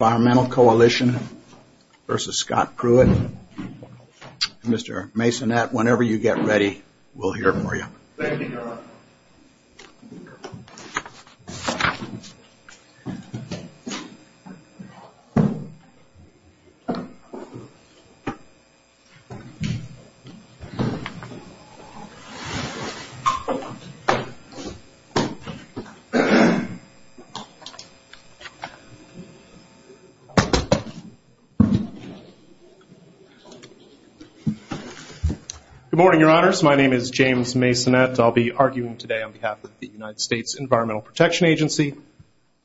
Environmental Coalition v. Scott Pruitt. Mr. Masonette, whenever you get ready, we'll hear from you. Good morning, your honors. My name is James Masonette. I'll be arguing today on behalf of the United States Environmental Protection Agency.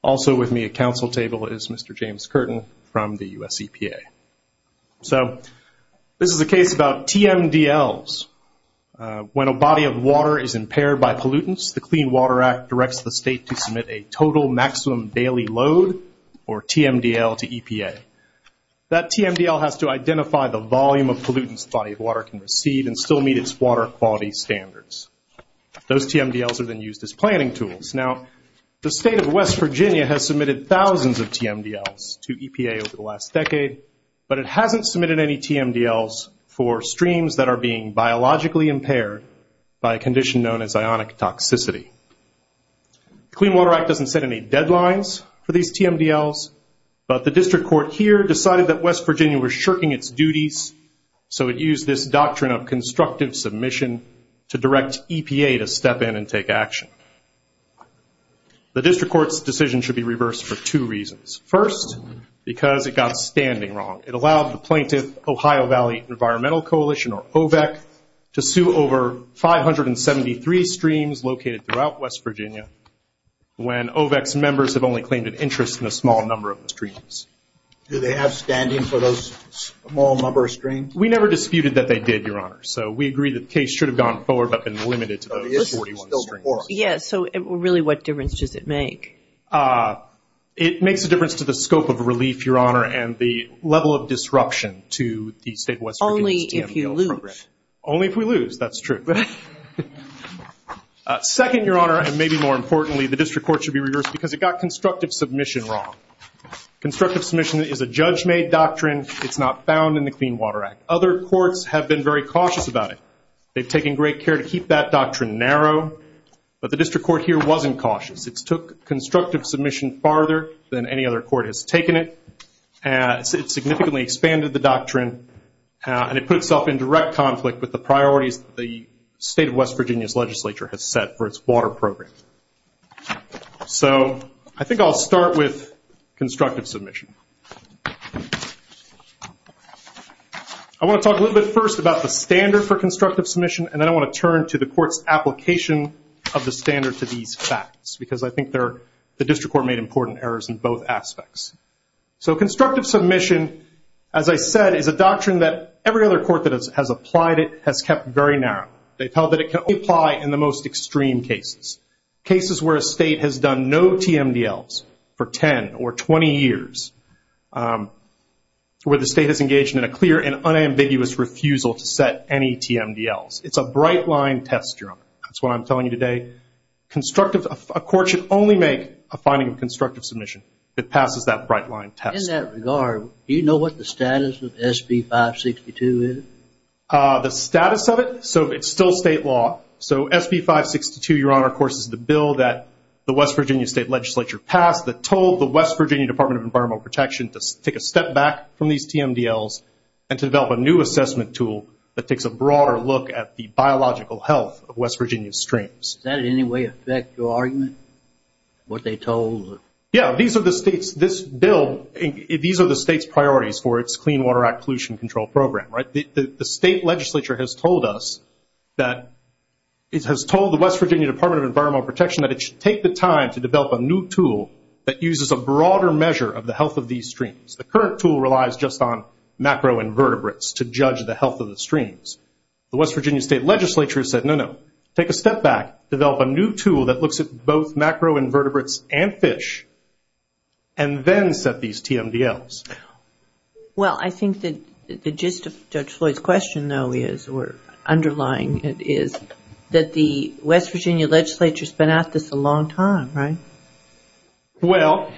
Also with me at council table is Mr. James Curtin from the U.S. EPA. So, this is a case about TMDLs. When a body of water is impaired by pollutants, the Clean Water Act directs the state to submit a total maximum daily load, or TMDL, to EPA. That TMDL has to identify the volume of pollutants the body of water can receive and still meet its water quality standards. Those TMDLs are then used as planning tools. Now, the state of West Virginia has submitted thousands of TMDLs to EPA over the last decade, but it hasn't submitted any TMDLs for streams that are being biologically impaired by a condition known as ionic toxicity. The Clean Water Act doesn't set any deadlines for these TMDLs, but the district court here decided that West Virginia was shirking its duties, so it used this doctrine of constructive submission to direct EPA to step in and take action. The district court's decision should be reversed for two reasons. First, because it got standing wrong. It allowed the plaintiff, Ohio Valley Environmental Coalition, or OVEC, to sue over 573 streams located throughout West Virginia, when OVEC's members have only claimed an interest in a small number of the streams. Do they have standing for those small number of streams? We never disputed that they did, Your Honor, so we agree that the case should have gone forward but been limited to those 41 streams. Yes, so really what difference does it make? It makes a difference to the scope of relief, Your Honor, and the level of disruption to the state of West Virginia's TMDL program. Only if you lose. Only if we lose, that's true. Second, Your Honor, and maybe more importantly, the district court should be reversed because it got constructive submission wrong. Constructive submission is a judge-made doctrine. It's not found in the Clean Water Act. Other courts have been very cautious about it. They've taken great care to keep that doctrine narrow, but the district court here wasn't cautious. It took constructive submission farther than any other court has taken it. It significantly expanded the doctrine, and it put itself in direct conflict with the priorities the state of West Virginia's legislature has set for its water program. So I think I'll start with constructive submission. I want to talk a little bit first about the standard for constructive submission, and then I want to turn to the court's application of the standard to these facts because I think the district court made important errors in both aspects. So constructive submission, as I said, is a doctrine that every other court that has applied it has kept very narrow. They've held that it can only apply in the most extreme cases, cases where a state has done no TMDLs for 10 or 20 years, where the state has engaged in a clear and unambiguous refusal to set any TMDLs. It's a bright-line test, Your Honor. That's what I'm telling you today. A court should only make a finding of constructive submission that passes that bright-line test. In that regard, do you know what the status of SB 562 is? The status of it? So it's still state law. So SB 562, Your Honor, of course, is the bill that the West Virginia State Legislature passed that told the West Virginia Department of Environmental Protection to take a step back from these TMDLs and to develop a new assessment tool that takes a broader look at the biological health of West Virginia's streams. Does that in any way affect your argument, what they told? Yeah, these are the state's priorities for its Clean Water Act Pollution Control Program. The state legislature has told us that it has told the West Virginia Department of Environmental Protection that it should take the time to develop a new tool that uses a broader measure of the health of these streams. The current tool relies just on macroinvertebrates to judge the health of the streams. The West Virginia State Legislature said, no, no, take a step back, develop a new tool that looks at both macroinvertebrates and fish, and then set these TMDLs. Well, I think that the gist of Judge Floyd's question, though, is, or underlying it is, that the West Virginia Legislature has been at this a long time, right? Well.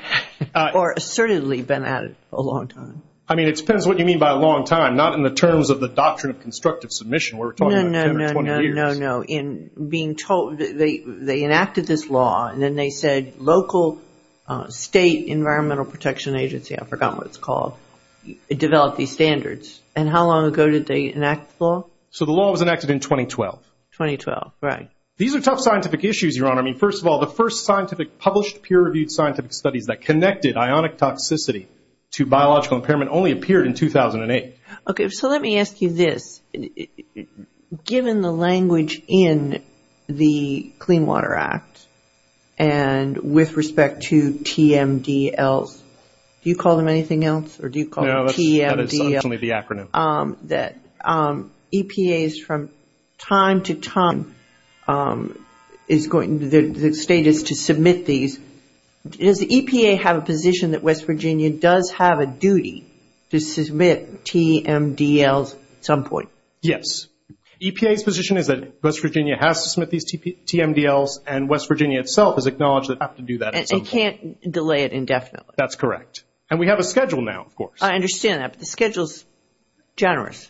Or assertedly been at it a long time. I mean, it depends what you mean by a long time, not in the terms of the doctrine of constructive submission. We're talking about 10 or 20 years. No, no. In being told, they enacted this law, and then they said local state environmental protection agency, I've forgotten what it's called, develop these standards. And how long ago did they enact the law? So the law was enacted in 2012. 2012, right. These are tough scientific issues, Your Honor. I mean, first of all, the first scientific, published, peer-reviewed scientific studies that connected ionic toxicity to biological impairment only appeared in 2008. Okay, so let me ask you this. Given the language in the Clean Water Act, and with respect to TMDLs, do you call them anything else? Or do you call them TMDLs? No, that's only the acronym. That EPAs from time to time is going, the state is to submit these. Does the EPA have a position that West Virginia does have a duty to submit TMDLs at some point? Yes. EPA's position is that West Virginia has to submit these TMDLs, and West Virginia itself has acknowledged that they have to do that at some point. And they can't delay it indefinitely. That's correct. And we have a schedule now, of course. I understand that, but the schedule is generous.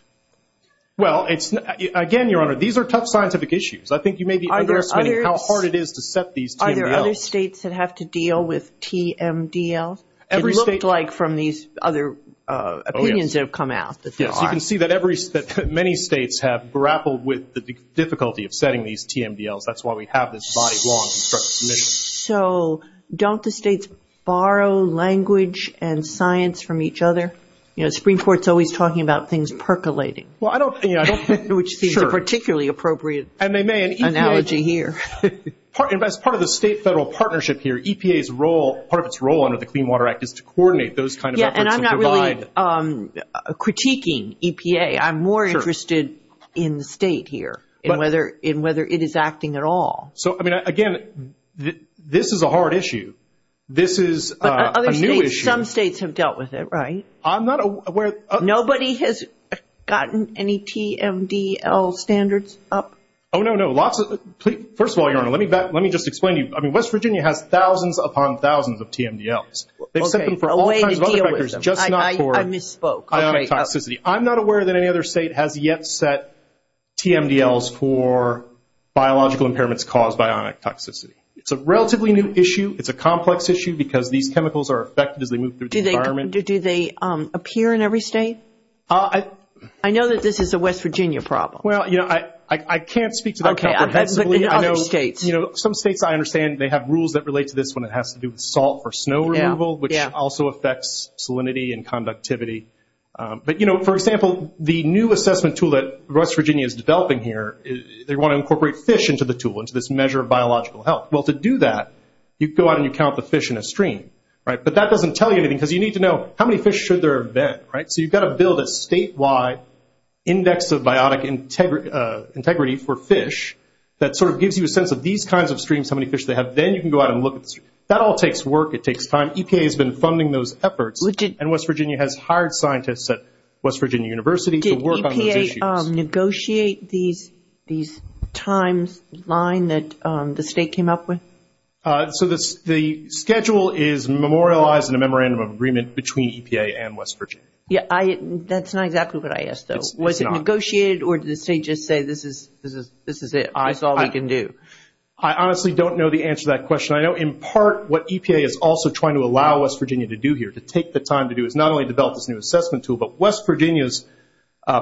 Well, again, Your Honor, these are tough scientific issues. I think you may be underestimating how hard it is to set these TMDLs. Are there other states that have to deal with TMDLs? It looked like from these other opinions that have come out that there are. Yes, you can see that many states have grappled with the difficulty of setting these TMDLs. That's why we have this body-long construction. So don't the states borrow language and science from each other? You know, the Supreme Court is always talking about things percolating, which seems a particularly appropriate analogy here. As part of the state-federal partnership here, EPA's role, part of its role under the Clean Water Act, is to coordinate those kinds of efforts and provide. Yes, and I'm not really critiquing EPA. I'm more interested in the state here and whether it is acting at all. So, I mean, again, this is a hard issue. This is a new issue. But some states have dealt with it, right? I'm not aware. Nobody has gotten any TMDL standards up? Oh, no, no. First of all, Your Honor, let me just explain to you. I mean, West Virginia has thousands upon thousands of TMDLs. They've set them for all kinds of other factors, just not for ionic toxicity. I'm not aware that any other state has yet set TMDLs for biological impairments caused by ionic toxicity. It's a relatively new issue. It's a complex issue because these chemicals are affected as they move through the environment. Do they appear in every state? I know that this is a West Virginia problem. Well, you know, I can't speak to that comprehensively. Some states, I understand, they have rules that relate to this one. It has to do with salt for snow removal, which also affects salinity and conductivity. But, you know, for example, the new assessment tool that West Virginia is developing here, they want to incorporate fish into the tool, into this measure of biological health. Well, to do that, you go out and you count the fish in a stream, right? But that doesn't tell you anything because you need to know how many fish should there have been, right? So you've got to build a statewide index of biotic integrity for fish that sort of gives you a sense of these kinds of streams, how many fish they have. Then you can go out and look at the stream. That all takes work. It takes time. EPA has been funding those efforts. And West Virginia has hired scientists at West Virginia University to work on those issues. Did EPA negotiate these times line that the state came up with? So the schedule is memorialized in a memorandum of agreement between EPA and West Virginia. That's not exactly what I asked, though. Was it negotiated or did the state just say this is it, this is all we can do? I honestly don't know the answer to that question. I know in part what EPA is also trying to allow West Virginia to do here, to take the time to do, is not only develop this new assessment tool, but West Virginia's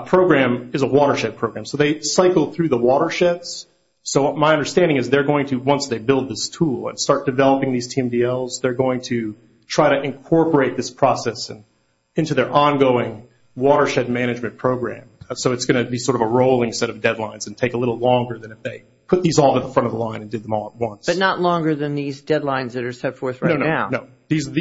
program is a watershed program. So they cycle through the watersheds. So my understanding is they're going to, once they build this tool and start developing these TMDLs, they're going to try to incorporate this process into their ongoing watershed management program. So it's going to be sort of a rolling set of deadlines and take a little longer than if they put these all at the front of the line and did them all at once. But not longer than these deadlines that are set forth right now. No, no, no. These are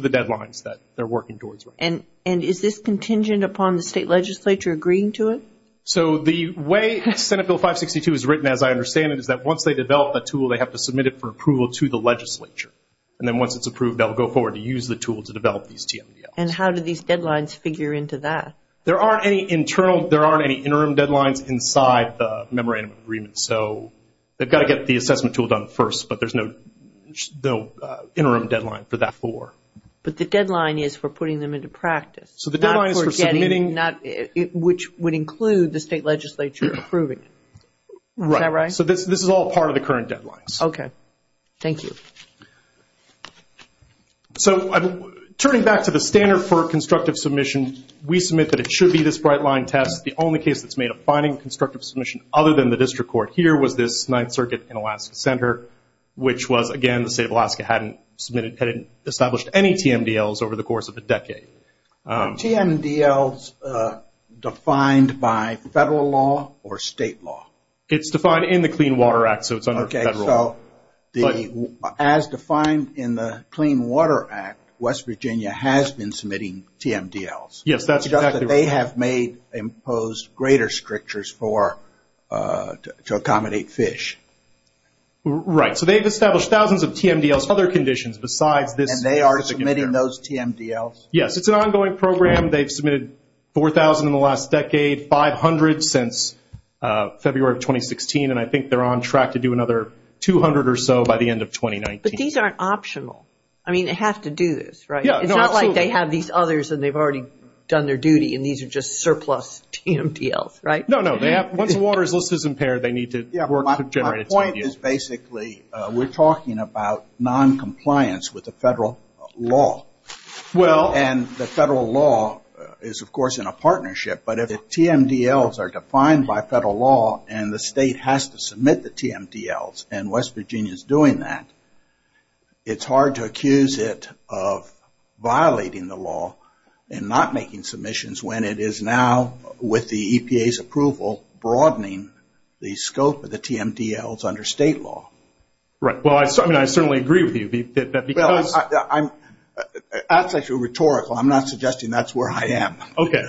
the deadlines that they're working towards right now. And is this contingent upon the state legislature agreeing to it? So the way Senate Bill 562 is written, as I understand it, is that once they develop the tool, they have to submit it for approval to the legislature. And then once it's approved, they'll go forward to use the tool to develop these TMDLs. And how do these deadlines figure into that? There aren't any interim deadlines inside the memorandum agreement. So they've got to get the assessment tool done first, but there's no interim deadline for that for. But the deadline is for putting them into practice. So the deadline is for submitting. Which would include the state legislature approving it. Right. Is that right? So this is all part of the current deadlines. Okay. Thank you. So turning back to the standard for constructive submission, we submit that it should be this bright line test. The only case that's made of finding constructive submission other than the district court here was this Ninth Circuit in Alaska Center, which was, again, the state of Alaska hadn't established any TMDLs over the course of a decade. TMDLs defined by federal law or state law? It's defined in the Clean Water Act, so it's under federal law. Okay. So as defined in the Clean Water Act, West Virginia has been submitting TMDLs. Yes, that's exactly right. They have made, imposed greater strictures to accommodate fish. Right. So they've established thousands of TMDLs, other conditions besides this. And they are submitting those TMDLs? Yes. It's an ongoing program. They've submitted 4,000 in the last decade, 500 since February of 2016, and I think they're on track to do another 200 or so by the end of 2019. But these aren't optional. I mean, they have to do this, right? Yeah, absolutely. It's not like they have these others and they've already done their duty, and these are just surplus TMDLs, right? No, no. Once the water is listed as impaired, they need to work to generate a TMDL. My point is basically we're talking about noncompliance with the federal law. Well. And the federal law is, of course, in a partnership, but if the TMDLs are defined by federal law and the state has to submit the TMDLs and West Virginia is doing that, it's hard to accuse it of violating the law and not making submissions when it is now, with the EPA's approval, broadening the scope of the TMDLs under state law. Right. Well, I mean, I certainly agree with you that because. Well, that's actually rhetorical. I'm not suggesting that's where I am. Okay.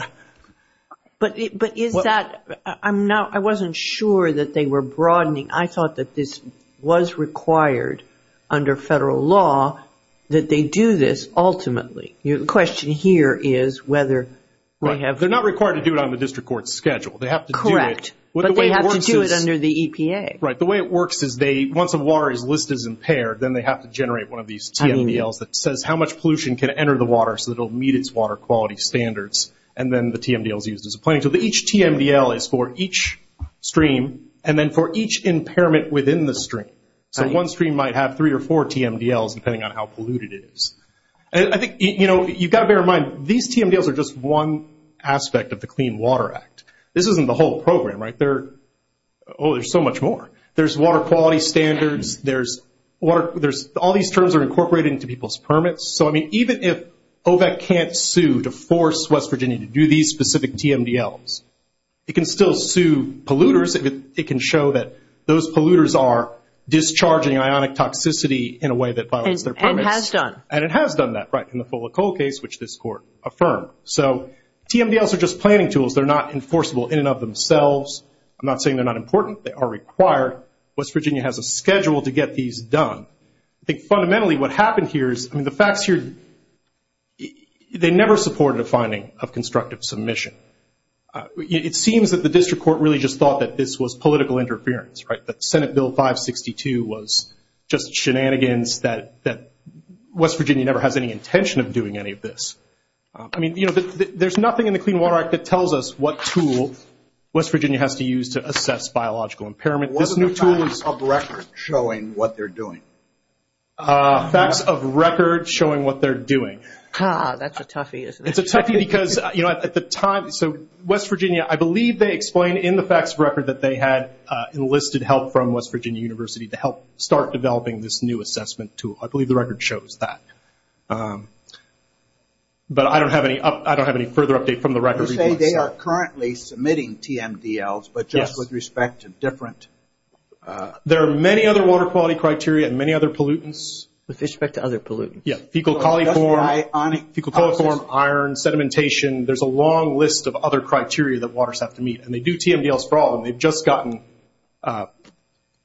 But is that, I wasn't sure that they were broadening. I thought that this was required under federal law that they do this ultimately. The question here is whether they have. They're not required to do it on the district court's schedule. They have to do it. Correct. But they have to do it under the EPA. Right. The way it works is they, once the water is listed as impaired, then they have to generate one of these TMDLs that says how much pollution can enter the water so that it will meet its water quality standards, and then the TMDL is used as a planning tool. Each TMDL is for each stream, and then for each impairment within the stream. So one stream might have three or four TMDLs depending on how polluted it is. You've got to bear in mind, these TMDLs are just one aspect of the Clean Water Act. This isn't the whole program, right? Oh, there's so much more. There's water quality standards. All these terms are incorporated into people's permits. So, I mean, even if OVAC can't sue to force West Virginia to do these specific TMDLs, it can still sue polluters if it can show that those polluters are discharging ionic toxicity in a way that violates their permits. And it has done. And it has done that, right, in the Fola Cole case, which this Court affirmed. So TMDLs are just planning tools. They're not enforceable in and of themselves. I'm not saying they're not important. They are required. West Virginia has a schedule to get these done. I think fundamentally what happened here is, I mean, the facts here, they never supported a finding of constructive submission. It seems that the district court really just thought that this was political interference, right, that Senate Bill 562 was just shenanigans, that West Virginia never has any intention of doing any of this. I mean, you know, there's nothing in the Clean Water Act that tells us what tool West Virginia has to use to assess biological impairment. What are the facts of record showing what they're doing? Facts of record showing what they're doing. Ah, that's a toughie, isn't it? It's a toughie because, you know, at the time, so West Virginia, I believe they explain in the facts of record that they had enlisted help from West Virginia University to help start developing this new assessment tool. I believe the record shows that. But I don't have any further update from the record. You say they are currently submitting TMDLs, but just with respect to different? There are many other water quality criteria and many other pollutants. With respect to other pollutants? Yeah, fecal coliform, iron, sedimentation. There's a long list of other criteria that waters have to meet. And they do TMDLs for all of them. They've just gotten,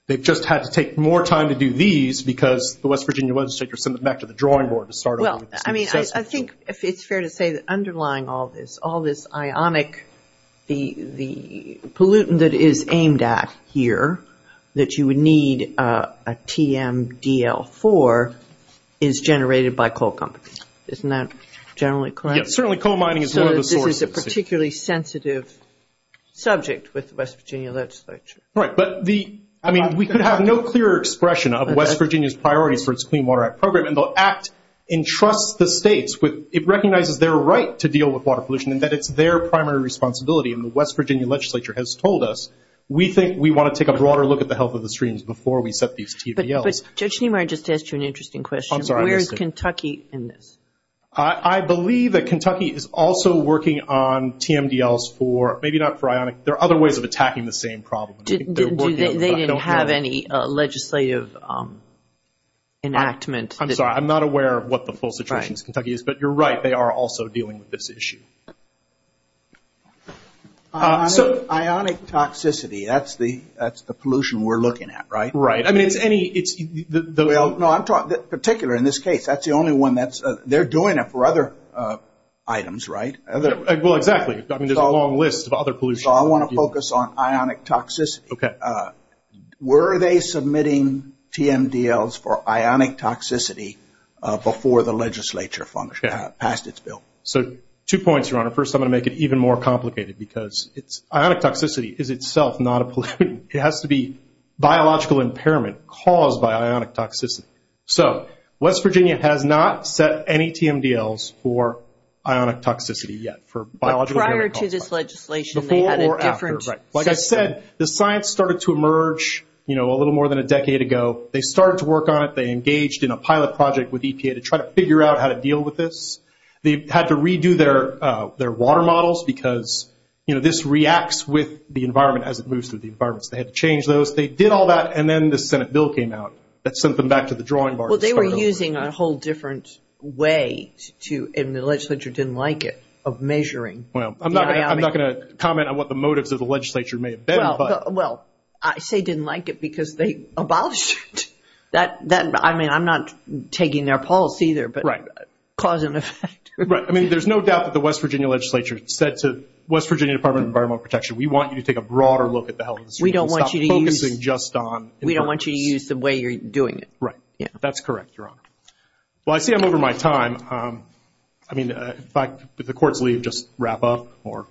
they've just had to take more time to do these because the West Virginia legislature sent them back to the drawing board to start on the assessment tool. Well, I mean, I think it's fair to say that underlying all this, all this ionic, the pollutant that is aimed at here that you would need a TMDL for is generated by coal companies. Isn't that generally correct? Yes, certainly coal mining is one of the sources. So this is a particularly sensitive subject with the West Virginia legislature. Right, but the, I mean, we could have no clearer expression of West Virginia's priorities for its Clean Water Act program. And the act entrusts the states with, it recognizes their right to deal with water pollution and that it's their primary responsibility. And the West Virginia legislature has told us, we think we want to take a broader look at the health of the streams before we set these TMDLs. But Judge Niemeyer just asked you an interesting question. I'm sorry, I missed it. Where is Kentucky in this? I believe that Kentucky is also working on TMDLs for, maybe not for ionic, there are other ways of attacking the same problem. They didn't have any legislative enactment. I'm sorry, I'm not aware of what the full situation in Kentucky is. But you're right, they are also dealing with this issue. Ionic toxicity, that's the pollution we're looking at, right? Right. I mean, it's any, it's the… Well, no, I'm talking, particularly in this case, that's the only one that's, they're doing it for other items, right? Well, exactly. I mean, there's a long list of other pollution. So I want to focus on ionic toxicity. Okay. Were they submitting TMDLs for ionic toxicity before the legislature passed its bill? So, two points, Your Honor. First, I'm going to make it even more complicated because it's, ionic toxicity is itself not a pollutant. It has to be biological impairment caused by ionic toxicity. So, West Virginia has not set any TMDLs for ionic toxicity yet, for biological impairment. But prior to this legislation, they had a different… Before or after, right. Like I said, the science started to emerge, you know, a little more than a decade ago. They started to work on it. They engaged in a pilot project with EPA to try to figure out how to deal with this. They had to redo their water models because, you know, this reacts with the environment as it moves through the environments. They had to change those. They did all that, and then the Senate bill came out that sent them back to the drawing board. Well, they were using a whole different way to, and the legislature didn't like it, of measuring the ionic… Well, I'm not going to comment on what the motives of the legislature may have been, but… Well, I say didn't like it because they abolished it. I mean, I'm not taking their policy there, but cause and effect. Right. I mean, there's no doubt that the West Virginia legislature said to the West Virginia Department of Environmental Protection, we want you to take a broader look at the health… We don't want you to use… …and stop focusing just on… We don't want you to use the way you're doing it. Right. That's correct, Your Honor. Well, I see I'm over my time. I mean, if the courts leave, just wrap up or…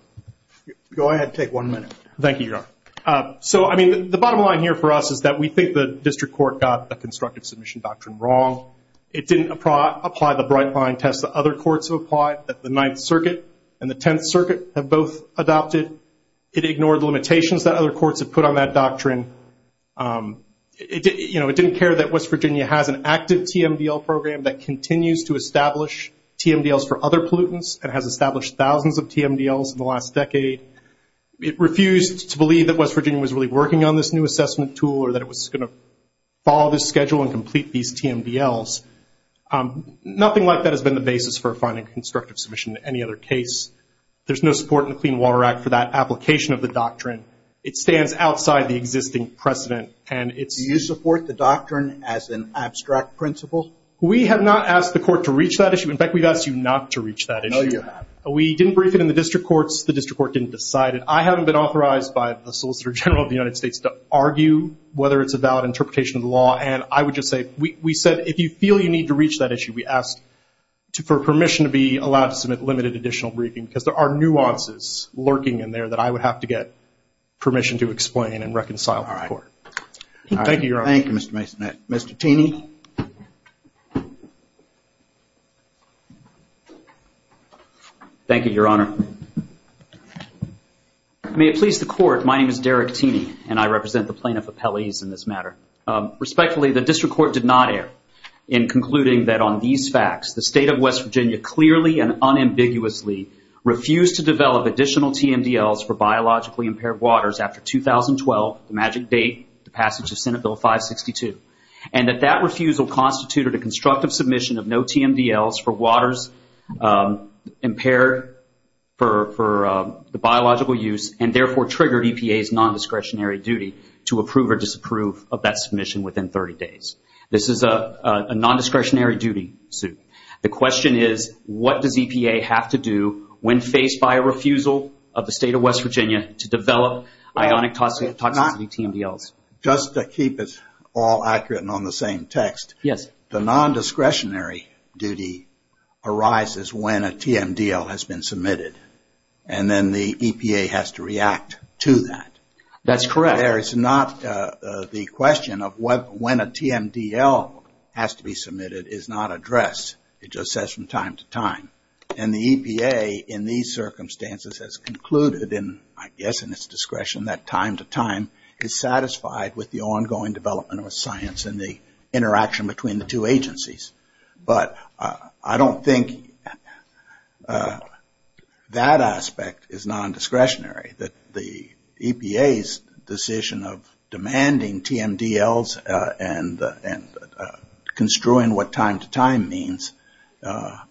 Go ahead. Take one minute. Thank you, Your Honor. So, I mean, the bottom line here for us is that we think the district court got the constructive submission doctrine wrong. It didn't apply the bright line test that other courts have applied, that the Ninth Circuit and the Tenth Circuit have both adopted. It ignored the limitations that other courts have put on that doctrine. You know, it didn't care that West Virginia has an active TMDL program that continues to establish TMDLs for other pollutants and has established thousands of TMDLs in the last decade. It refused to believe that West Virginia was really working on this new assessment tool or that it was going to follow this schedule and complete these TMDLs. Nothing like that has been the basis for finding constructive submission to any other case. There's no support in the Clean Water Act for that application of the doctrine. It stands outside the existing precedent, and it's… Do you support the doctrine as an abstract principle? We have not asked the court to reach that issue. In fact, we've asked you not to reach that issue. No, you haven't. We didn't brief it in the district courts. The district court didn't decide it. I haven't been authorized by the Solicitor General of the United States to argue whether it's a valid interpretation of the law, and I would just say we said if you feel you need to reach that issue, we asked for permission to be allowed to submit limited additional briefing because there are nuances lurking in there that I would have to get permission to explain and reconcile with the court. All right. Thank you, Your Honor. Thank you, Mr. Mason. Mr. Taney? Thank you, Your Honor. May it please the court, my name is Derek Taney, and I represent the plaintiff appellees in this matter. Respectfully, the district court did not err in concluding that on these facts, the state of West Virginia clearly and unambiguously refused to develop additional TMDLs for biologically impaired waters after 2012, the magic date, the passage of Senate Bill 562, and that that refusal constituted a constructive submission of no TMDLs for waters impaired for the biological use and therefore triggered EPA's non-discretionary duty to approve or disapprove of that submission within 30 days. This is a non-discretionary duty suit. The question is what does EPA have to do when faced by a refusal of the state of West Virginia to develop ionic toxicity TMDLs? Just to keep us all accurate and on the same text, the non-discretionary duty arises when a TMDL has been submitted and then the EPA has to react to that. That's correct. There is not the question of when a TMDL has to be submitted is not addressed. It just says from time to time. And the EPA in these circumstances has concluded, I guess in its discretion, that time to time is satisfied with the ongoing development of science and the interaction between the two agencies. But I don't think that aspect is non-discretionary. The EPA's decision of demanding TMDLs and construing what time to time means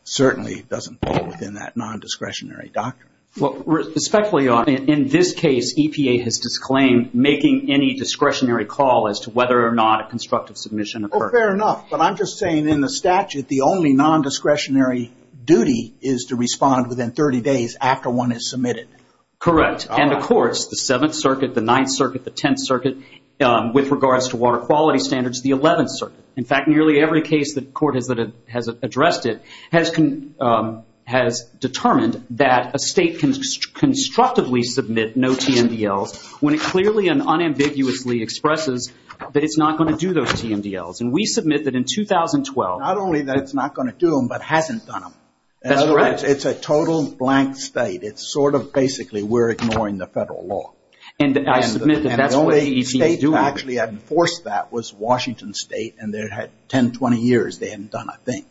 certainly doesn't fall within that non-discretionary doctrine. Respectfully, in this case, EPA has disclaimed making any discretionary call as to whether or not a constructive submission occurred. Fair enough. But I'm just saying in the statute, the only non-discretionary duty is to respond within 30 days after one is submitted. Correct. And of course, the 7th Circuit, the 9th Circuit, the 10th Circuit, with regards to water quality standards, the 11th Circuit. In fact, nearly every case that court has addressed it has determined that a state can constructively submit no TMDLs when it clearly and unambiguously expresses that it's not going to do those TMDLs. And we submit that in 2012. Not only that it's not going to do them, but hasn't done them. That's correct. It's a total blank state. It's sort of basically we're ignoring the federal law. And I submit that that's what the EPA is doing. The only state that actually had enforced that was Washington State. And they had 10, 20 years they hadn't done a thing.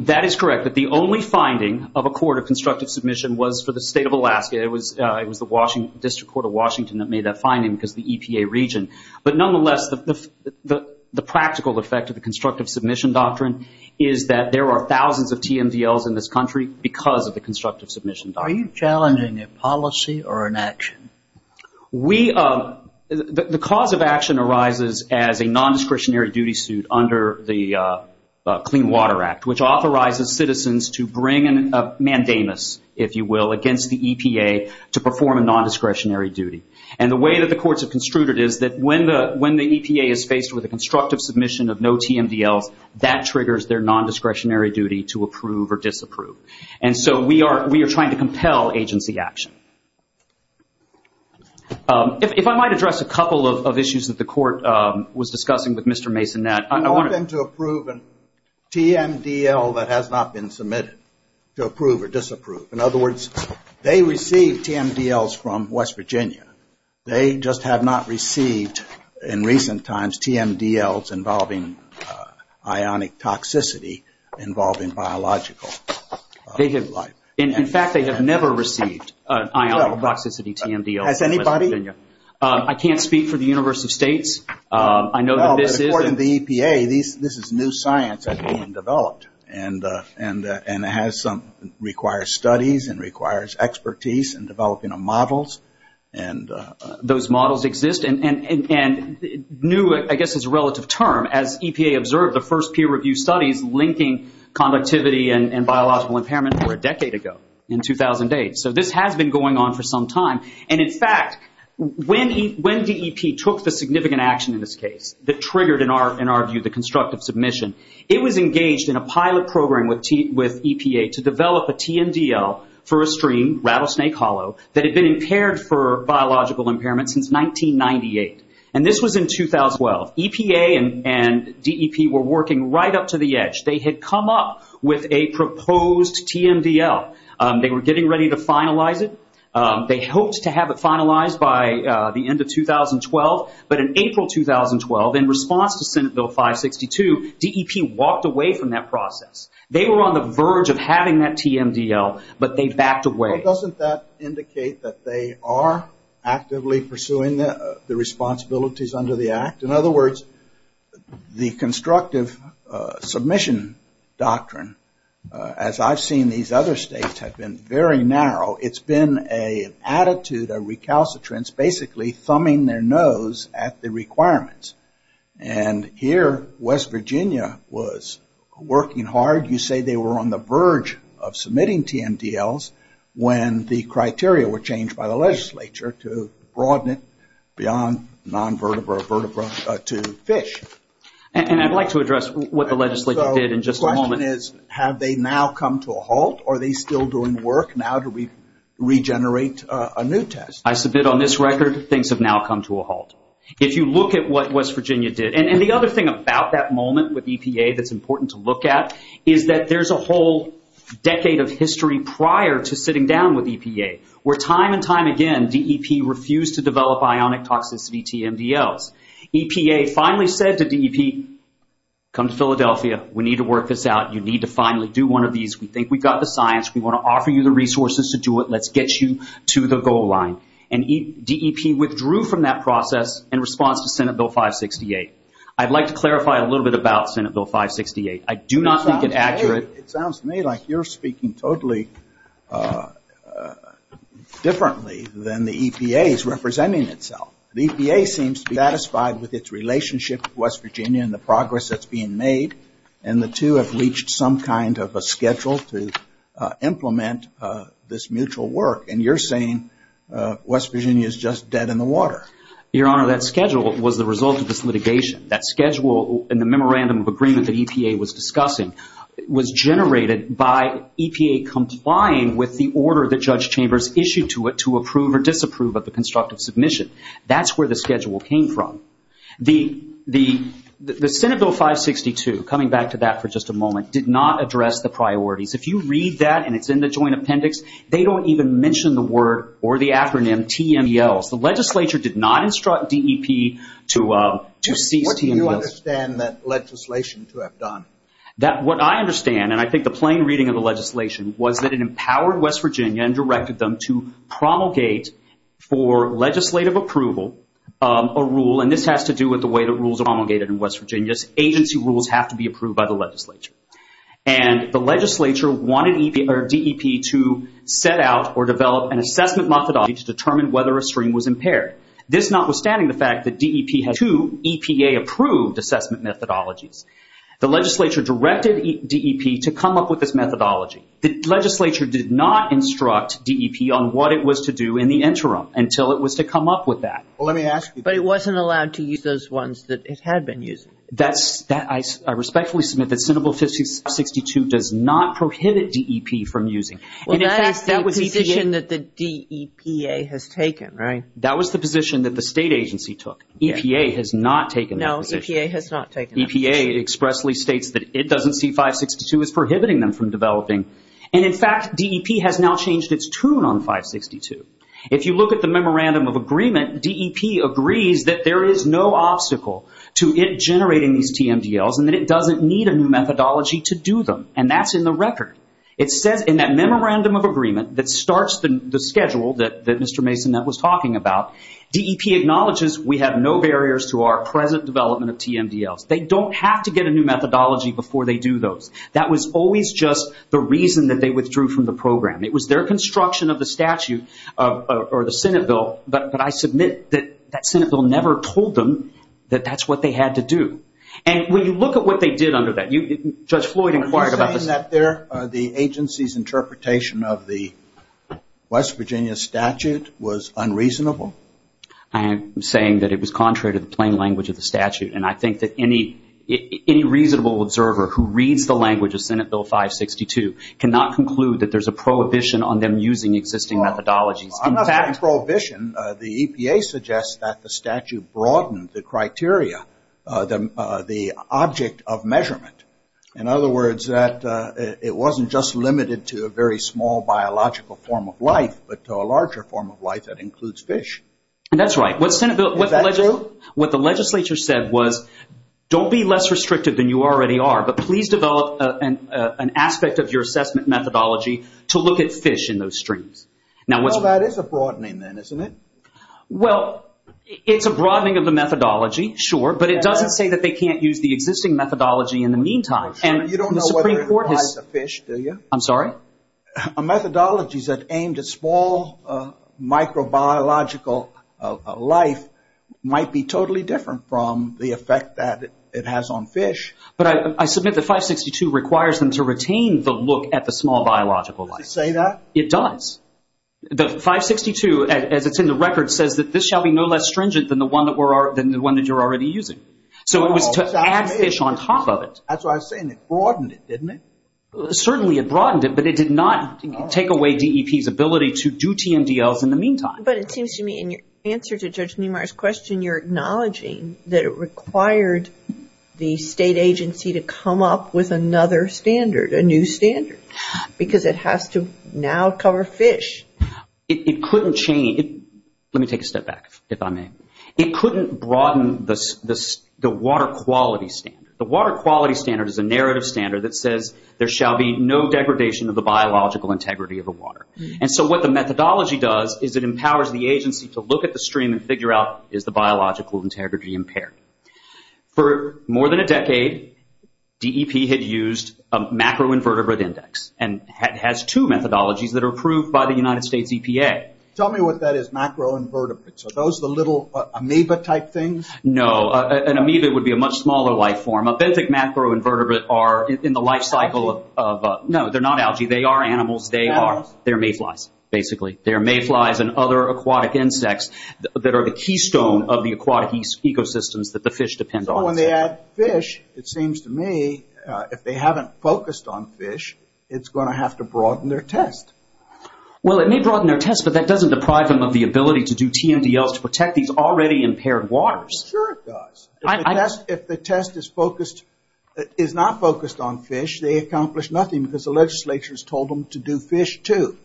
That is correct. But the only finding of a court of constructive submission was for the state of Alaska. It was the District Court of Washington that made that finding because of the EPA region. But nonetheless, the practical effect of the constructive submission doctrine is that there are thousands of TMDLs in this country because of the constructive submission doctrine. Are you challenging a policy or an action? The cause of action arises as a nondiscretionary duty suit under the Clean Water Act, which authorizes citizens to bring a mandamus, if you will, against the EPA to perform a nondiscretionary duty. And the way that the courts have construed it is that when the EPA is faced with a constructive submission of no TMDLs, that triggers their nondiscretionary duty to approve or disapprove. And so we are trying to compel agency action. If I might address a couple of issues that the court was discussing with Mr. Mason. I want them to approve a TMDL that has not been submitted, to approve or disapprove. In other words, they receive TMDLs from West Virginia. They just have not received, in recent times, TMDLs involving ionic toxicity involving biological life. In fact, they have never received ionic toxicity TMDLs from West Virginia. Has anybody? I can't speak for the University of States. I know that this is. Well, according to the EPA, this is new science that's being developed. And it has some required studies and requires expertise in developing a model. And those models exist. And new, I guess, is a relative term. As EPA observed, the first peer-reviewed studies linking conductivity and biological impairment were a decade ago, in 2008. So this has been going on for some time. And, in fact, when DEP took the significant action in this case that triggered, in our view, the constructive submission, it was engaged in a pilot program with EPA to develop a TMDL for a stream, Rattlesnake Hollow, that had been impaired for biological impairment since 1998. And this was in 2012. EPA and DEP were working right up to the edge. They had come up with a proposed TMDL. They were getting ready to finalize it. They hoped to have it finalized by the end of 2012. But in April 2012, in response to Senate Bill 562, DEP walked away from that process. They were on the verge of having that TMDL, but they backed away. Well, doesn't that indicate that they are actively pursuing the responsibilities under the Act? In other words, the constructive submission doctrine, as I've seen these other states have been, very narrow. It's been an attitude, a recalcitrance, basically thumbing their nose at the requirements. And here, West Virginia was working hard. You say they were on the verge of submitting TMDLs when the criteria were changed by the legislature to broaden it beyond non-vertebra to fish. And I'd like to address what the legislature did in just a moment. The question is, have they now come to a halt? Are they still doing work now to regenerate a new test? I submit on this record, things have now come to a halt. If you look at what West Virginia did, and the other thing about that moment with EPA that's important to look at, is that there's a whole decade of history prior to sitting down with EPA, where time and time again, DEP refused to develop ionic toxicity TMDLs. EPA finally said to DEP, come to Philadelphia. We need to work this out. You need to finally do one of these. We think we've got the science. We want to offer you the resources to do it. Let's get you to the goal line. And DEP withdrew from that process in response to Senate Bill 568. I'd like to clarify a little bit about Senate Bill 568. I do not think it's accurate. It sounds to me like you're speaking totally differently than the EPA is representing itself. The EPA seems to be satisfied with its relationship with West Virginia and the progress that's being made, and the two have reached some kind of a schedule to implement this mutual work, and you're saying West Virginia is just dead in the water. Your Honor, that schedule was the result of this litigation. That schedule in the memorandum of agreement that EPA was discussing was generated by EPA complying with the order that Judge Chambers issued to it to approve or disapprove of the constructive submission. That's where the schedule came from. The Senate Bill 562, coming back to that for just a moment, did not address the priorities. If you read that and it's in the joint appendix, they don't even mention the word or the acronym TMELs. The legislature did not instruct DEP to cease TMELs. What do you understand that legislation to have done? What I understand, and I think the plain reading of the legislation, was that it empowered West Virginia and directed them to promulgate for legislative approval a rule, and this has to do with the way that rules are promulgated in West Virginia. Agency rules have to be approved by the legislature. The legislature wanted DEP to set out or develop an assessment methodology to determine whether a stream was impaired. This notwithstanding the fact that DEP had two EPA-approved assessment methodologies. The legislature directed DEP to come up with this methodology. The legislature did not instruct DEP on what it was to do in the interim until it was to come up with that. Well, let me ask you. But it wasn't allowed to use those ones that it had been using. I respectfully submit that Senate Bill 562 does not prohibit DEP from using. Well, that is the position that the DEPA has taken, right? That was the position that the state agency took. EPA has not taken that position. No, EPA has not taken that position. EPA expressly states that it doesn't see 562 as prohibiting them from developing, and in fact DEP has now changed its tune on 562. If you look at the memorandum of agreement, DEP agrees that there is no obstacle to it generating these TMDLs and that it doesn't need a new methodology to do them, and that's in the record. It says in that memorandum of agreement that starts the schedule that Mr. Mason was talking about, DEP acknowledges we have no barriers to our present development of TMDLs. They don't have to get a new methodology before they do those. That was always just the reason that they withdrew from the program. It was their construction of the statute or the Senate Bill, but I submit that that Senate Bill never told them that that's what they had to do. And when you look at what they did under that, Judge Floyd inquired about this. Are you saying that the agency's interpretation of the West Virginia statute was unreasonable? I am saying that it was contrary to the plain language of the statute, and I think that any reasonable observer who reads the language of Senate Bill 562 cannot conclude that there's a prohibition on them using existing methodologies. I'm not saying prohibition. The EPA suggests that the statute broadened the criteria, the object of measurement. In other words, that it wasn't just limited to a very small biological form of life, but to a larger form of life that includes fish. That's right. Is that true? What the legislature said was don't be less restricted than you already are, but please develop an aspect of your assessment methodology to look at fish in those streams. Well, that is a broadening then, isn't it? Well, it's a broadening of the methodology, sure, but it doesn't say that they can't use the existing methodology in the meantime. You don't know whether it applies to fish, do you? I'm sorry? A methodology that's aimed at small microbiological life might be totally different from the effect that it has on fish. But I submit that 562 requires them to retain the look at the small biological life. Does it say that? It does. The 562, as it's in the record, says that this shall be no less stringent than the one that you're already using. So it was to add fish on top of it. That's what I was saying. It broadened it, didn't it? Certainly it broadened it, but it did not take away DEP's ability to do TMDLs in the meantime. But it seems to me in your answer to Judge Niemeyer's question, you're acknowledging that it required the state agency to come up with another standard, a new standard, because it has to now cover fish. It couldn't change. Let me take a step back, if I may. It couldn't broaden the water quality standard. The water quality standard is a narrative standard that says there shall be no degradation of the biological integrity of the water. And so what the methodology does is it empowers the agency to look at the stream and figure out is the biological integrity impaired. For more than a decade, DEP had used a macro-invertebrate index and has two methodologies that are approved by the United States EPA. Tell me what that is, macro-invertebrates. Are those the little amoeba-type things? No. An amoeba would be a much smaller life form. A benthic macro-invertebrate are in the life cycle of— Algae? No, they're not algae. They are animals. They are mayflies, basically. They are mayflies and other aquatic insects that are the keystone of the aquatic ecosystems that the fish depend on. So when they add fish, it seems to me if they haven't focused on fish, it's going to have to broaden their test. Well, it may broaden their test, but that doesn't deprive them of the ability to do TMDLs to protect these already impaired waters. Sure it does. If the test is not focused on fish, they accomplish nothing because the legislature has told them to do fish, too.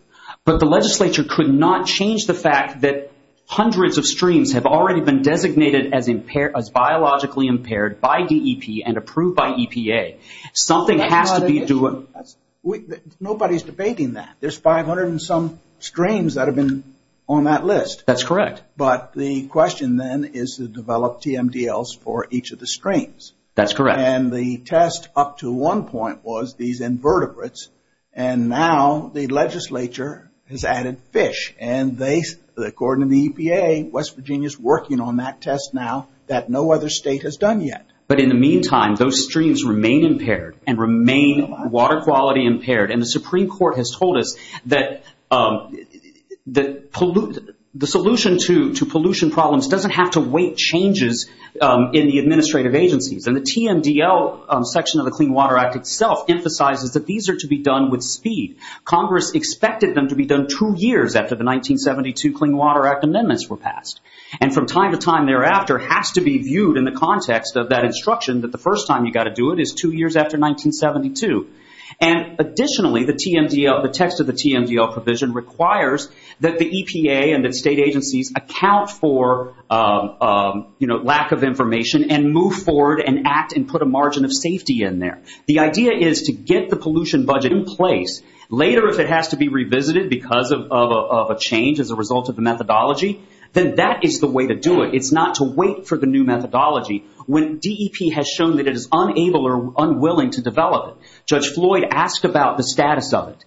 But the legislature could not change the fact that hundreds of streams have already been designated as biologically impaired by DEP and approved by EPA. Something has to be doing— Nobody's debating that. There's 500 and some streams that have been on that list. That's correct. But the question then is to develop TMDLs for each of the streams. That's correct. And the test up to one point was these invertebrates, and now the legislature has added fish. And according to the EPA, West Virginia is working on that test now that no other state has done yet. But in the meantime, those streams remain impaired and remain water quality impaired. And the Supreme Court has told us that the solution to pollution problems doesn't have to await changes in the administrative agencies. And the TMDL section of the Clean Water Act itself emphasizes that these are to be done with speed. Congress expected them to be done two years after the 1972 Clean Water Act amendments were passed. And from time to time thereafter, it has to be viewed in the context of that instruction that the first time you've got to do it is two years after 1972. And additionally, the text of the TMDL provision requires that the EPA and the state agencies account for lack of information and move forward and act and put a margin of safety in there. The idea is to get the pollution budget in place. Later, if it has to be revisited because of a change as a result of the methodology, then that is the way to do it. It's not to wait for the new methodology when DEP has shown that it is unable or unwilling to develop it. Judge Floyd asked about the status of it.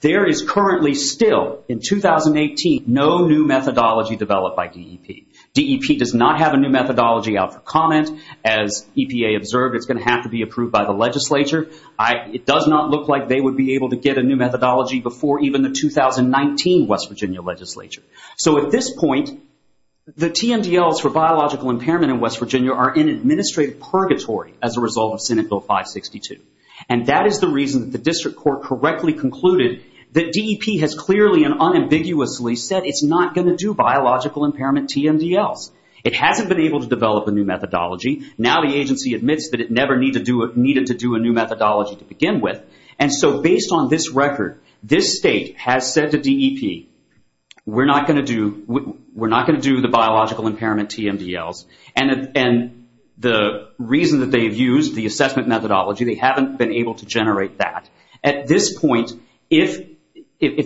There is currently still, in 2018, no new methodology developed by DEP. DEP does not have a new methodology out for comment. As EPA observed, it's going to have to be approved by the legislature. It does not look like they would be able to get a new methodology before even the 2019 West Virginia legislature. So at this point, the TMDLs for biological impairment in West Virginia are in administrative purgatory as a result of Senate Bill 562. That is the reason that the district court correctly concluded that DEP has clearly and unambiguously said it's not going to do biological impairment TMDLs. It hasn't been able to develop a new methodology. Now the agency admits that it never needed to do a new methodology to begin with. Based on this record, this state has said to DEP, we're not going to do the biological impairment TMDLs. And the reason that they've used the assessment methodology, they haven't been able to generate that. At this point, if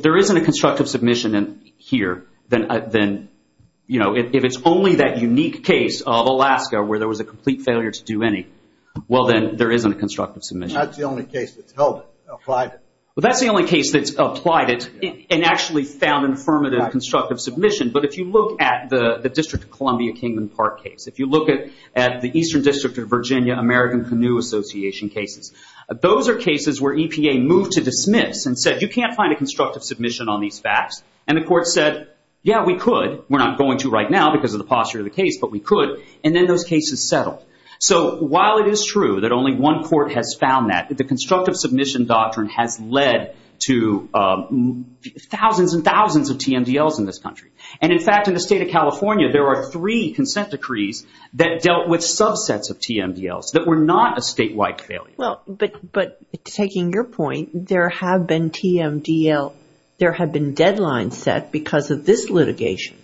there isn't a constructive submission here, then if it's only that unique case of Alaska where there was a complete failure to do any, well then there isn't a constructive submission. That's the only case that's held it, applied it. Well that's the only case that's applied it and actually found an affirmative constructive submission. But if you look at the District of Columbia Kingman Park case, if you look at the Eastern District of Virginia American Canoe Association cases, those are cases where EPA moved to dismiss and said, you can't find a constructive submission on these facts. And the court said, yeah, we could. We're not going to right now because of the posture of the case, but we could. And then those cases settled. So while it is true that only one court has found that, the constructive submission doctrine has led to thousands and thousands of TMDLs in this country. And, in fact, in the state of California there are three consent decrees that dealt with subsets of TMDLs that were not a statewide failure. But taking your point, there have been TMDL, there have been deadlines set because of this litigation.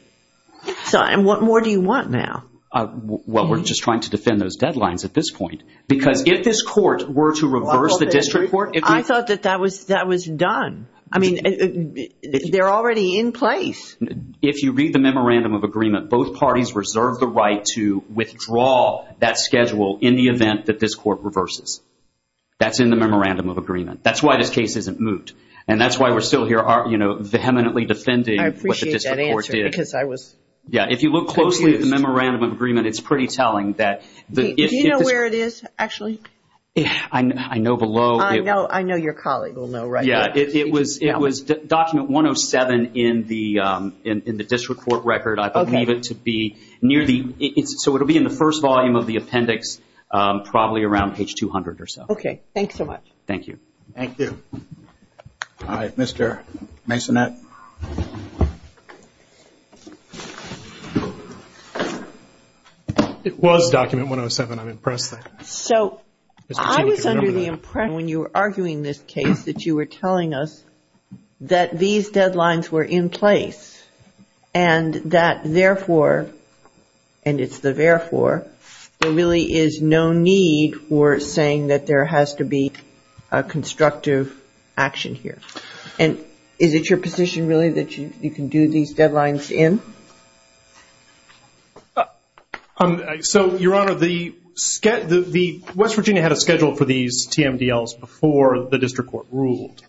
And what more do you want now? Well, we're just trying to defend those deadlines at this point. Because if this court were to reverse the district court. I thought that that was done. I mean, they're already in place. If you read the memorandum of agreement, both parties reserve the right to withdraw that schedule in the event that this court reverses. That's in the memorandum of agreement. That's why this case isn't moved. And that's why we're still here, you know, vehemently defending what the district court did. I appreciate that answer because I was. Yeah, if you look closely at the memorandum of agreement, it's pretty telling that. Do you know where it is, actually? I know below. I know your colleague will know, right? Yeah, it was document 107 in the district court record. I believe it to be near the. So it will be in the first volume of the appendix, probably around page 200 or so. Okay, thanks so much. Thank you. Thank you. All right, Mr. Masonette. It was document 107. I'm impressed. So I was under the impression when you were arguing this case that you were telling us that these deadlines were in place and that therefore, and it's the therefore, there really is no need for saying that there has to be a constructive action here. And is it your position, really, that you can do these deadlines in? So, Your Honor, the West Virginia had a schedule for these TMDLs before the district court ruled.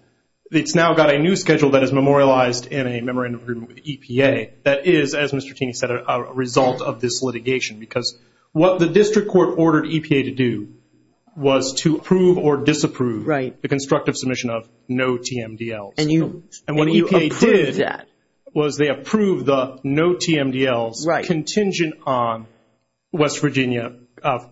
It's now got a new schedule that is memorialized in a memorandum of agreement with the EPA that is, as Mr. Taney said, a result of this litigation because what the district court ordered EPA to do was to approve or disapprove the constructive submission of no TMDLs. And what EPA did was they approved the no TMDLs contingent on West Virginia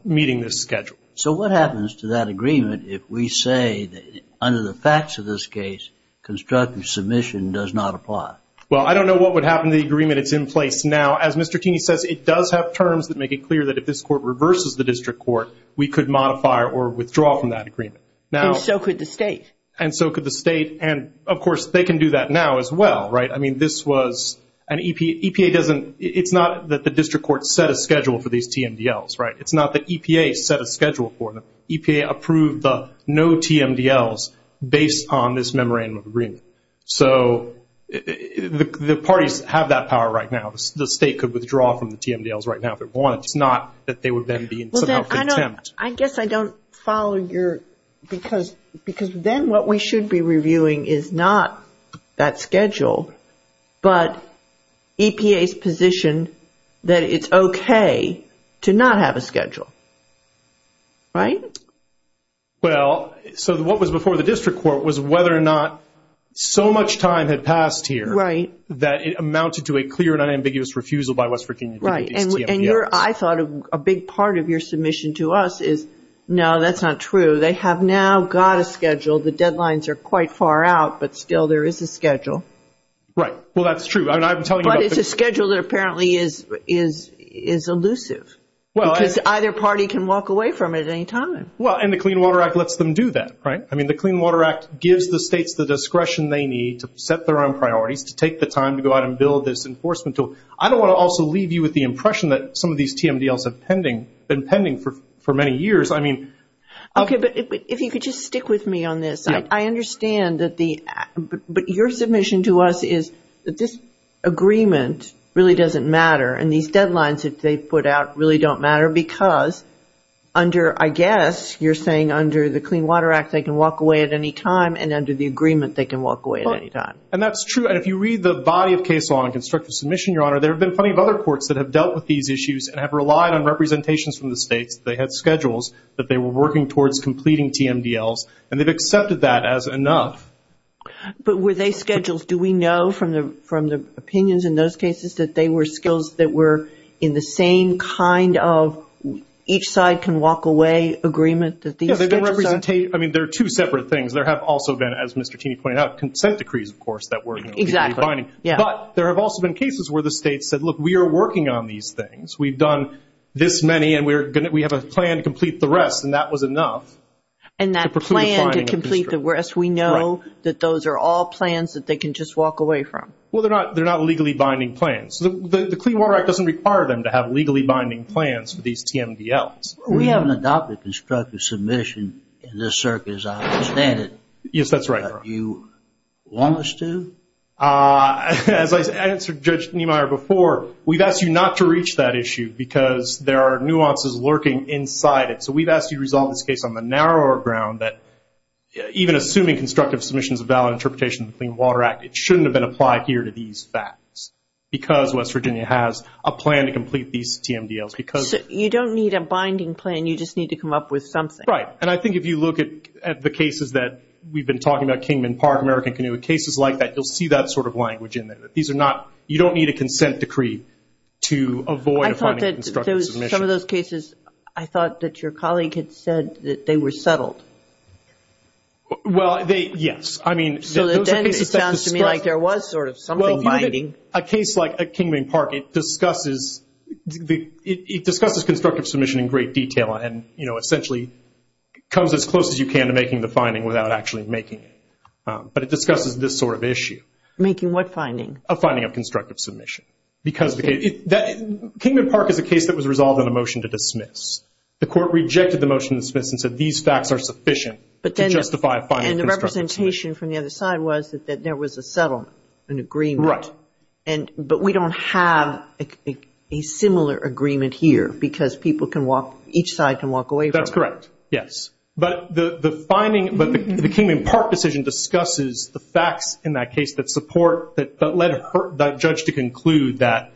meeting this schedule. So what happens to that agreement if we say that under the facts of this case, constructive submission does not apply? Well, I don't know what would happen to the agreement that's in place now. As Mr. Taney says, it does have terms that make it clear that if this court reverses the district court, we could modify or withdraw from that agreement. And so could the state. And so could the state. And, of course, they can do that now as well, right? I mean, this was an EPA doesn't – it's not that the district court set a schedule for these TMDLs, right? It's not that EPA set a schedule for them. EPA approved the no TMDLs based on this memorandum of agreement. So the parties have that power right now. The state could withdraw from the TMDLs right now if it wanted to. It's not that they would then be in some kind of contempt. I guess I don't follow your – because then what we should be reviewing is not that schedule, but EPA's position that it's okay to not have a schedule, right? Well, so what was before the district court was whether or not so much time had passed here that it amounted to a clear and unambiguous refusal by West Virginia to do these TMDLs. And I thought a big part of your submission to us is, no, that's not true. They have now got a schedule. The deadlines are quite far out, but still there is a schedule. Right. Well, that's true. But it's a schedule that apparently is elusive because either party can walk away from it at any time. Well, and the Clean Water Act lets them do that, right? I mean, the Clean Water Act gives the states the discretion they need to set their own priorities, to take the time to go out and build this enforcement tool. I don't want to also leave you with the impression that some of these TMDLs have been pending for many years. Okay, but if you could just stick with me on this. I understand that the – but your submission to us is that this agreement really doesn't matter and these deadlines that they put out really don't matter because under, I guess, you're saying under the Clean Water Act they can walk away at any time and under the agreement they can walk away at any time. And that's true. And if you read the body of case law and constructive submission, Your Honor, there have been plenty of other courts that have dealt with these issues and have relied on representations from the states. They had schedules that they were working towards completing TMDLs, and they've accepted that as enough. But were they schedules? Do we know from the opinions in those cases that they were skills that were in the same kind of each side can walk away agreement that these schedules are? Yeah, they've been – I mean, they're two separate things. There have also been, as Mr. Tini pointed out, consent decrees, of course, that were legally binding. But there have also been cases where the states said, look, we are working on these things. We've done this many and we have a plan to complete the rest, and that was enough. And that plan to complete the rest, we know that those are all plans that they can just walk away from. Well, they're not legally binding plans. The Clean Water Act doesn't require them to have legally binding plans for these TMDLs. We haven't adopted constructive submission in this circuit as I understand it. Yes, that's right. But you want us to? As I answered Judge Niemeyer before, we've asked you not to reach that issue because there are nuances lurking inside it. So we've asked you to resolve this case on the narrower ground that even assuming constructive submissions is a valid interpretation of the Clean Water Act, it shouldn't have been applied here to these facts because West Virginia has a plan to complete these TMDLs. You don't need a binding plan. You just need to come up with something. Right. And I think if you look at the cases that we've been talking about, Kingman Park, American Canoe, cases like that, you'll see that sort of language in there. You don't need a consent decree to avoid a finding of constructive submission. I thought that some of those cases, I thought that your colleague had said that they were settled. Well, yes. So then it sounds to me like there was sort of something binding. A case like Kingman Park, it discusses constructive submission in great detail and, you know, essentially comes as close as you can to making the finding without actually making it. But it discusses this sort of issue. Making what finding? A finding of constructive submission. Because Kingman Park is a case that was resolved on a motion to dismiss. The Court rejected the motion to dismiss and said these facts are sufficient to justify a finding. And the representation from the other side was that there was a settlement, an agreement. Right. But we don't have a similar agreement here because people can walk, each side can walk away from it. That's correct. Yes. But the finding, the Kingman Park decision discusses the facts in that case that support, that led that judge to conclude that,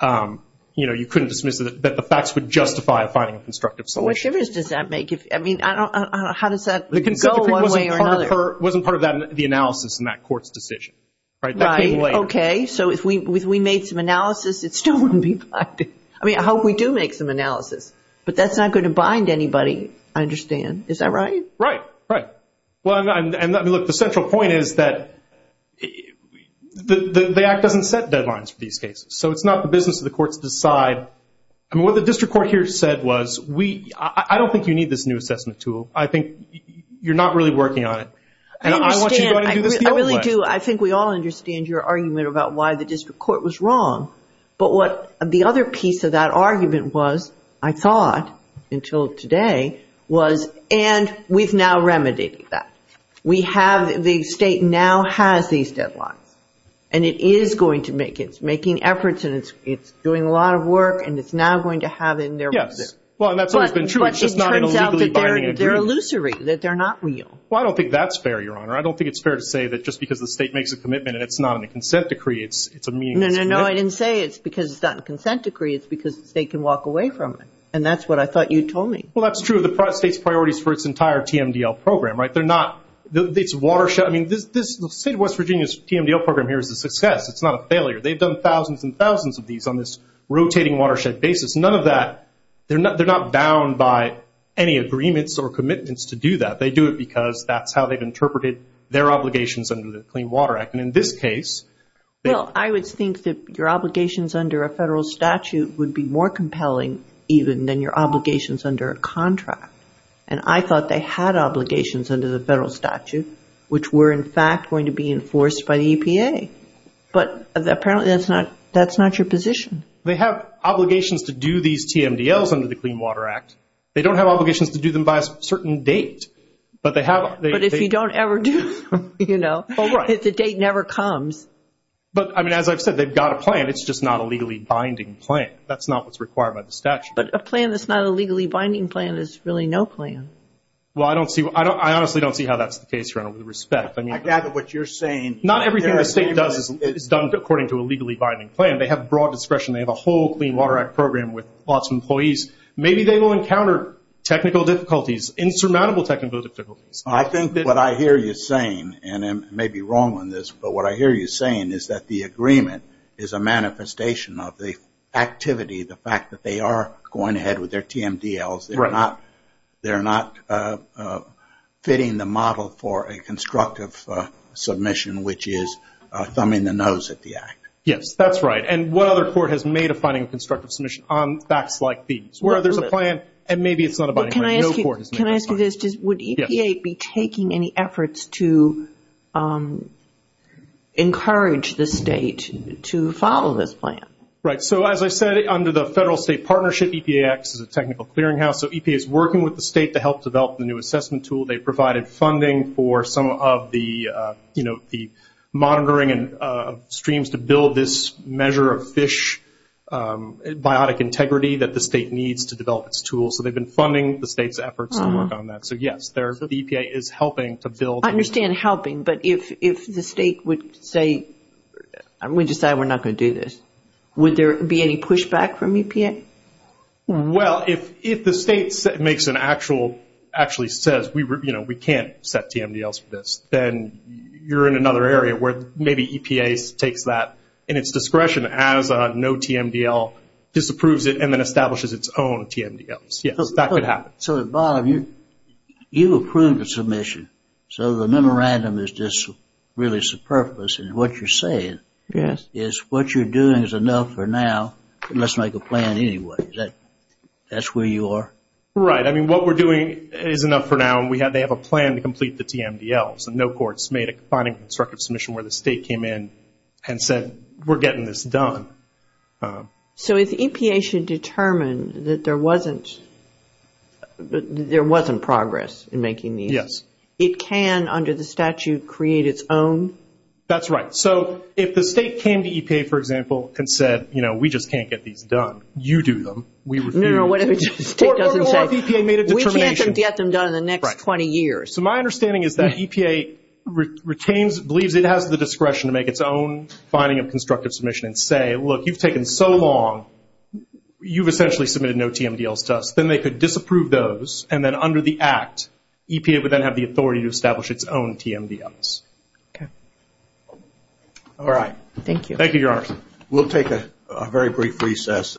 you know, you couldn't dismiss that the facts would justify a finding of constructive submission. Which difference does that make? I mean, how does that go one way or another? The consent decree wasn't part of the analysis in that Court's decision. Right. Okay. So if we made some analysis, it still wouldn't be binding. I mean, I hope we do make some analysis. But that's not going to bind anybody, I understand. Is that right? Right. Right. Well, I mean, look, the central point is that the Act doesn't set deadlines for these cases. So it's not the business of the courts to decide. I mean, what the district court here said was, I don't think you need this new assessment tool. I understand. And I want you to go ahead and do this the other way. I really do. I think we all understand your argument about why the district court was wrong. But what the other piece of that argument was, I thought, until today, was, and we've now remedied that. We have the state now has these deadlines. And it is going to make it. It's making efforts and it's doing a lot of work, and it's now going to have in there. Yes. Well, and that's always been true. It's just not in a legally binding agreement. But it turns out that they're illusory, that they're not real. Well, I don't think that's fair, Your Honor. I don't think it's fair to say that just because the state makes a commitment and it's not in the consent decree, it's a meaningless commitment. No, no, no, I didn't say it's because it's not in the consent decree. It's because the state can walk away from it. And that's what I thought you told me. Well, that's true of the state's priorities for its entire TMDL program, right? They're not, it's watershed. I mean, the state of West Virginia's TMDL program here is a success. It's not a failure. They've done thousands and thousands of these on this rotating watershed basis. None of that, they're not bound by any agreements or commitments to do that. They do it because that's how they've interpreted their obligations under the Clean Water Act. And in this case. Well, I would think that your obligations under a federal statute would be more compelling even than your obligations under a contract. And I thought they had obligations under the federal statute, which were in fact going to be enforced by the EPA. But apparently that's not your position. They have obligations to do these TMDLs under the Clean Water Act. They don't have obligations to do them by a certain date. But if you don't ever do them, you know, the date never comes. But, I mean, as I've said, they've got a plan. It's just not a legally binding plan. That's not what's required by the statute. But a plan that's not a legally binding plan is really no plan. Well, I honestly don't see how that's the case here, and with respect. I gather what you're saying. Not everything the state does is done according to a legally binding plan. They have broad discretion. They have a whole Clean Water Act program with lots of employees. Maybe they will encounter technical difficulties, insurmountable technical difficulties. I think what I hear you saying, and I may be wrong on this, but what I hear you saying is that the agreement is a manifestation of the activity, the fact that they are going ahead with their TMDLs. They're not fitting the model for a constructive submission, which is thumbing the nose at the Act. Yes, that's right. And what other court has made a finding of constructive submission on facts like these, where there's a plan and maybe it's not a binding plan. Can I ask you this? Would EPA be taking any efforts to encourage the state to follow this plan? Right. So, as I said, under the federal-state partnership, EPA acts as a technical clearinghouse. So EPA is working with the state to help develop the new assessment tool. They provided funding for some of the monitoring and streams to build this measure of fish biotic integrity that the state needs to develop its tools. So they've been funding the state's efforts to work on that. So, yes, the EPA is helping to build. I understand helping, but if the state would say, we decided we're not going to do this, would there be any pushback from EPA? Well, if the state makes an actual, actually says, you know, we can't set TMDLs for this, then you're in another area where maybe EPA takes that in its discretion as a no TMDL, disapproves it, and then establishes its own TMDLs. Yes, that could happen. So, Bob, you approved the submission. So the memorandum is just really superfluous. And what you're saying is what you're doing is enough for now. You must make a plan anyway. That's where you are. Right. I mean, what we're doing is enough for now, and they have a plan to complete the TMDLs. And no court's made a confining constructive submission where the state came in and said, we're getting this done. So if EPA should determine that there wasn't progress in making these, it can, under the statute, create its own? That's right. So if the state came to EPA, for example, and said, you know, we just can't get these done. You do them. We refuse. No, no, no. What if EPA made a determination? We can't get them done in the next 20 years. So my understanding is that EPA retains, believes it has the discretion to make its own finding of constructive submission and say, look, you've taken so long, you've essentially submitted no TMDLs to us. Then they could disapprove those. And then under the act, EPA would then have the authority to establish its own TMDLs. Okay. All right. Thank you. Thank you, Your Honor. We'll take a very brief recess.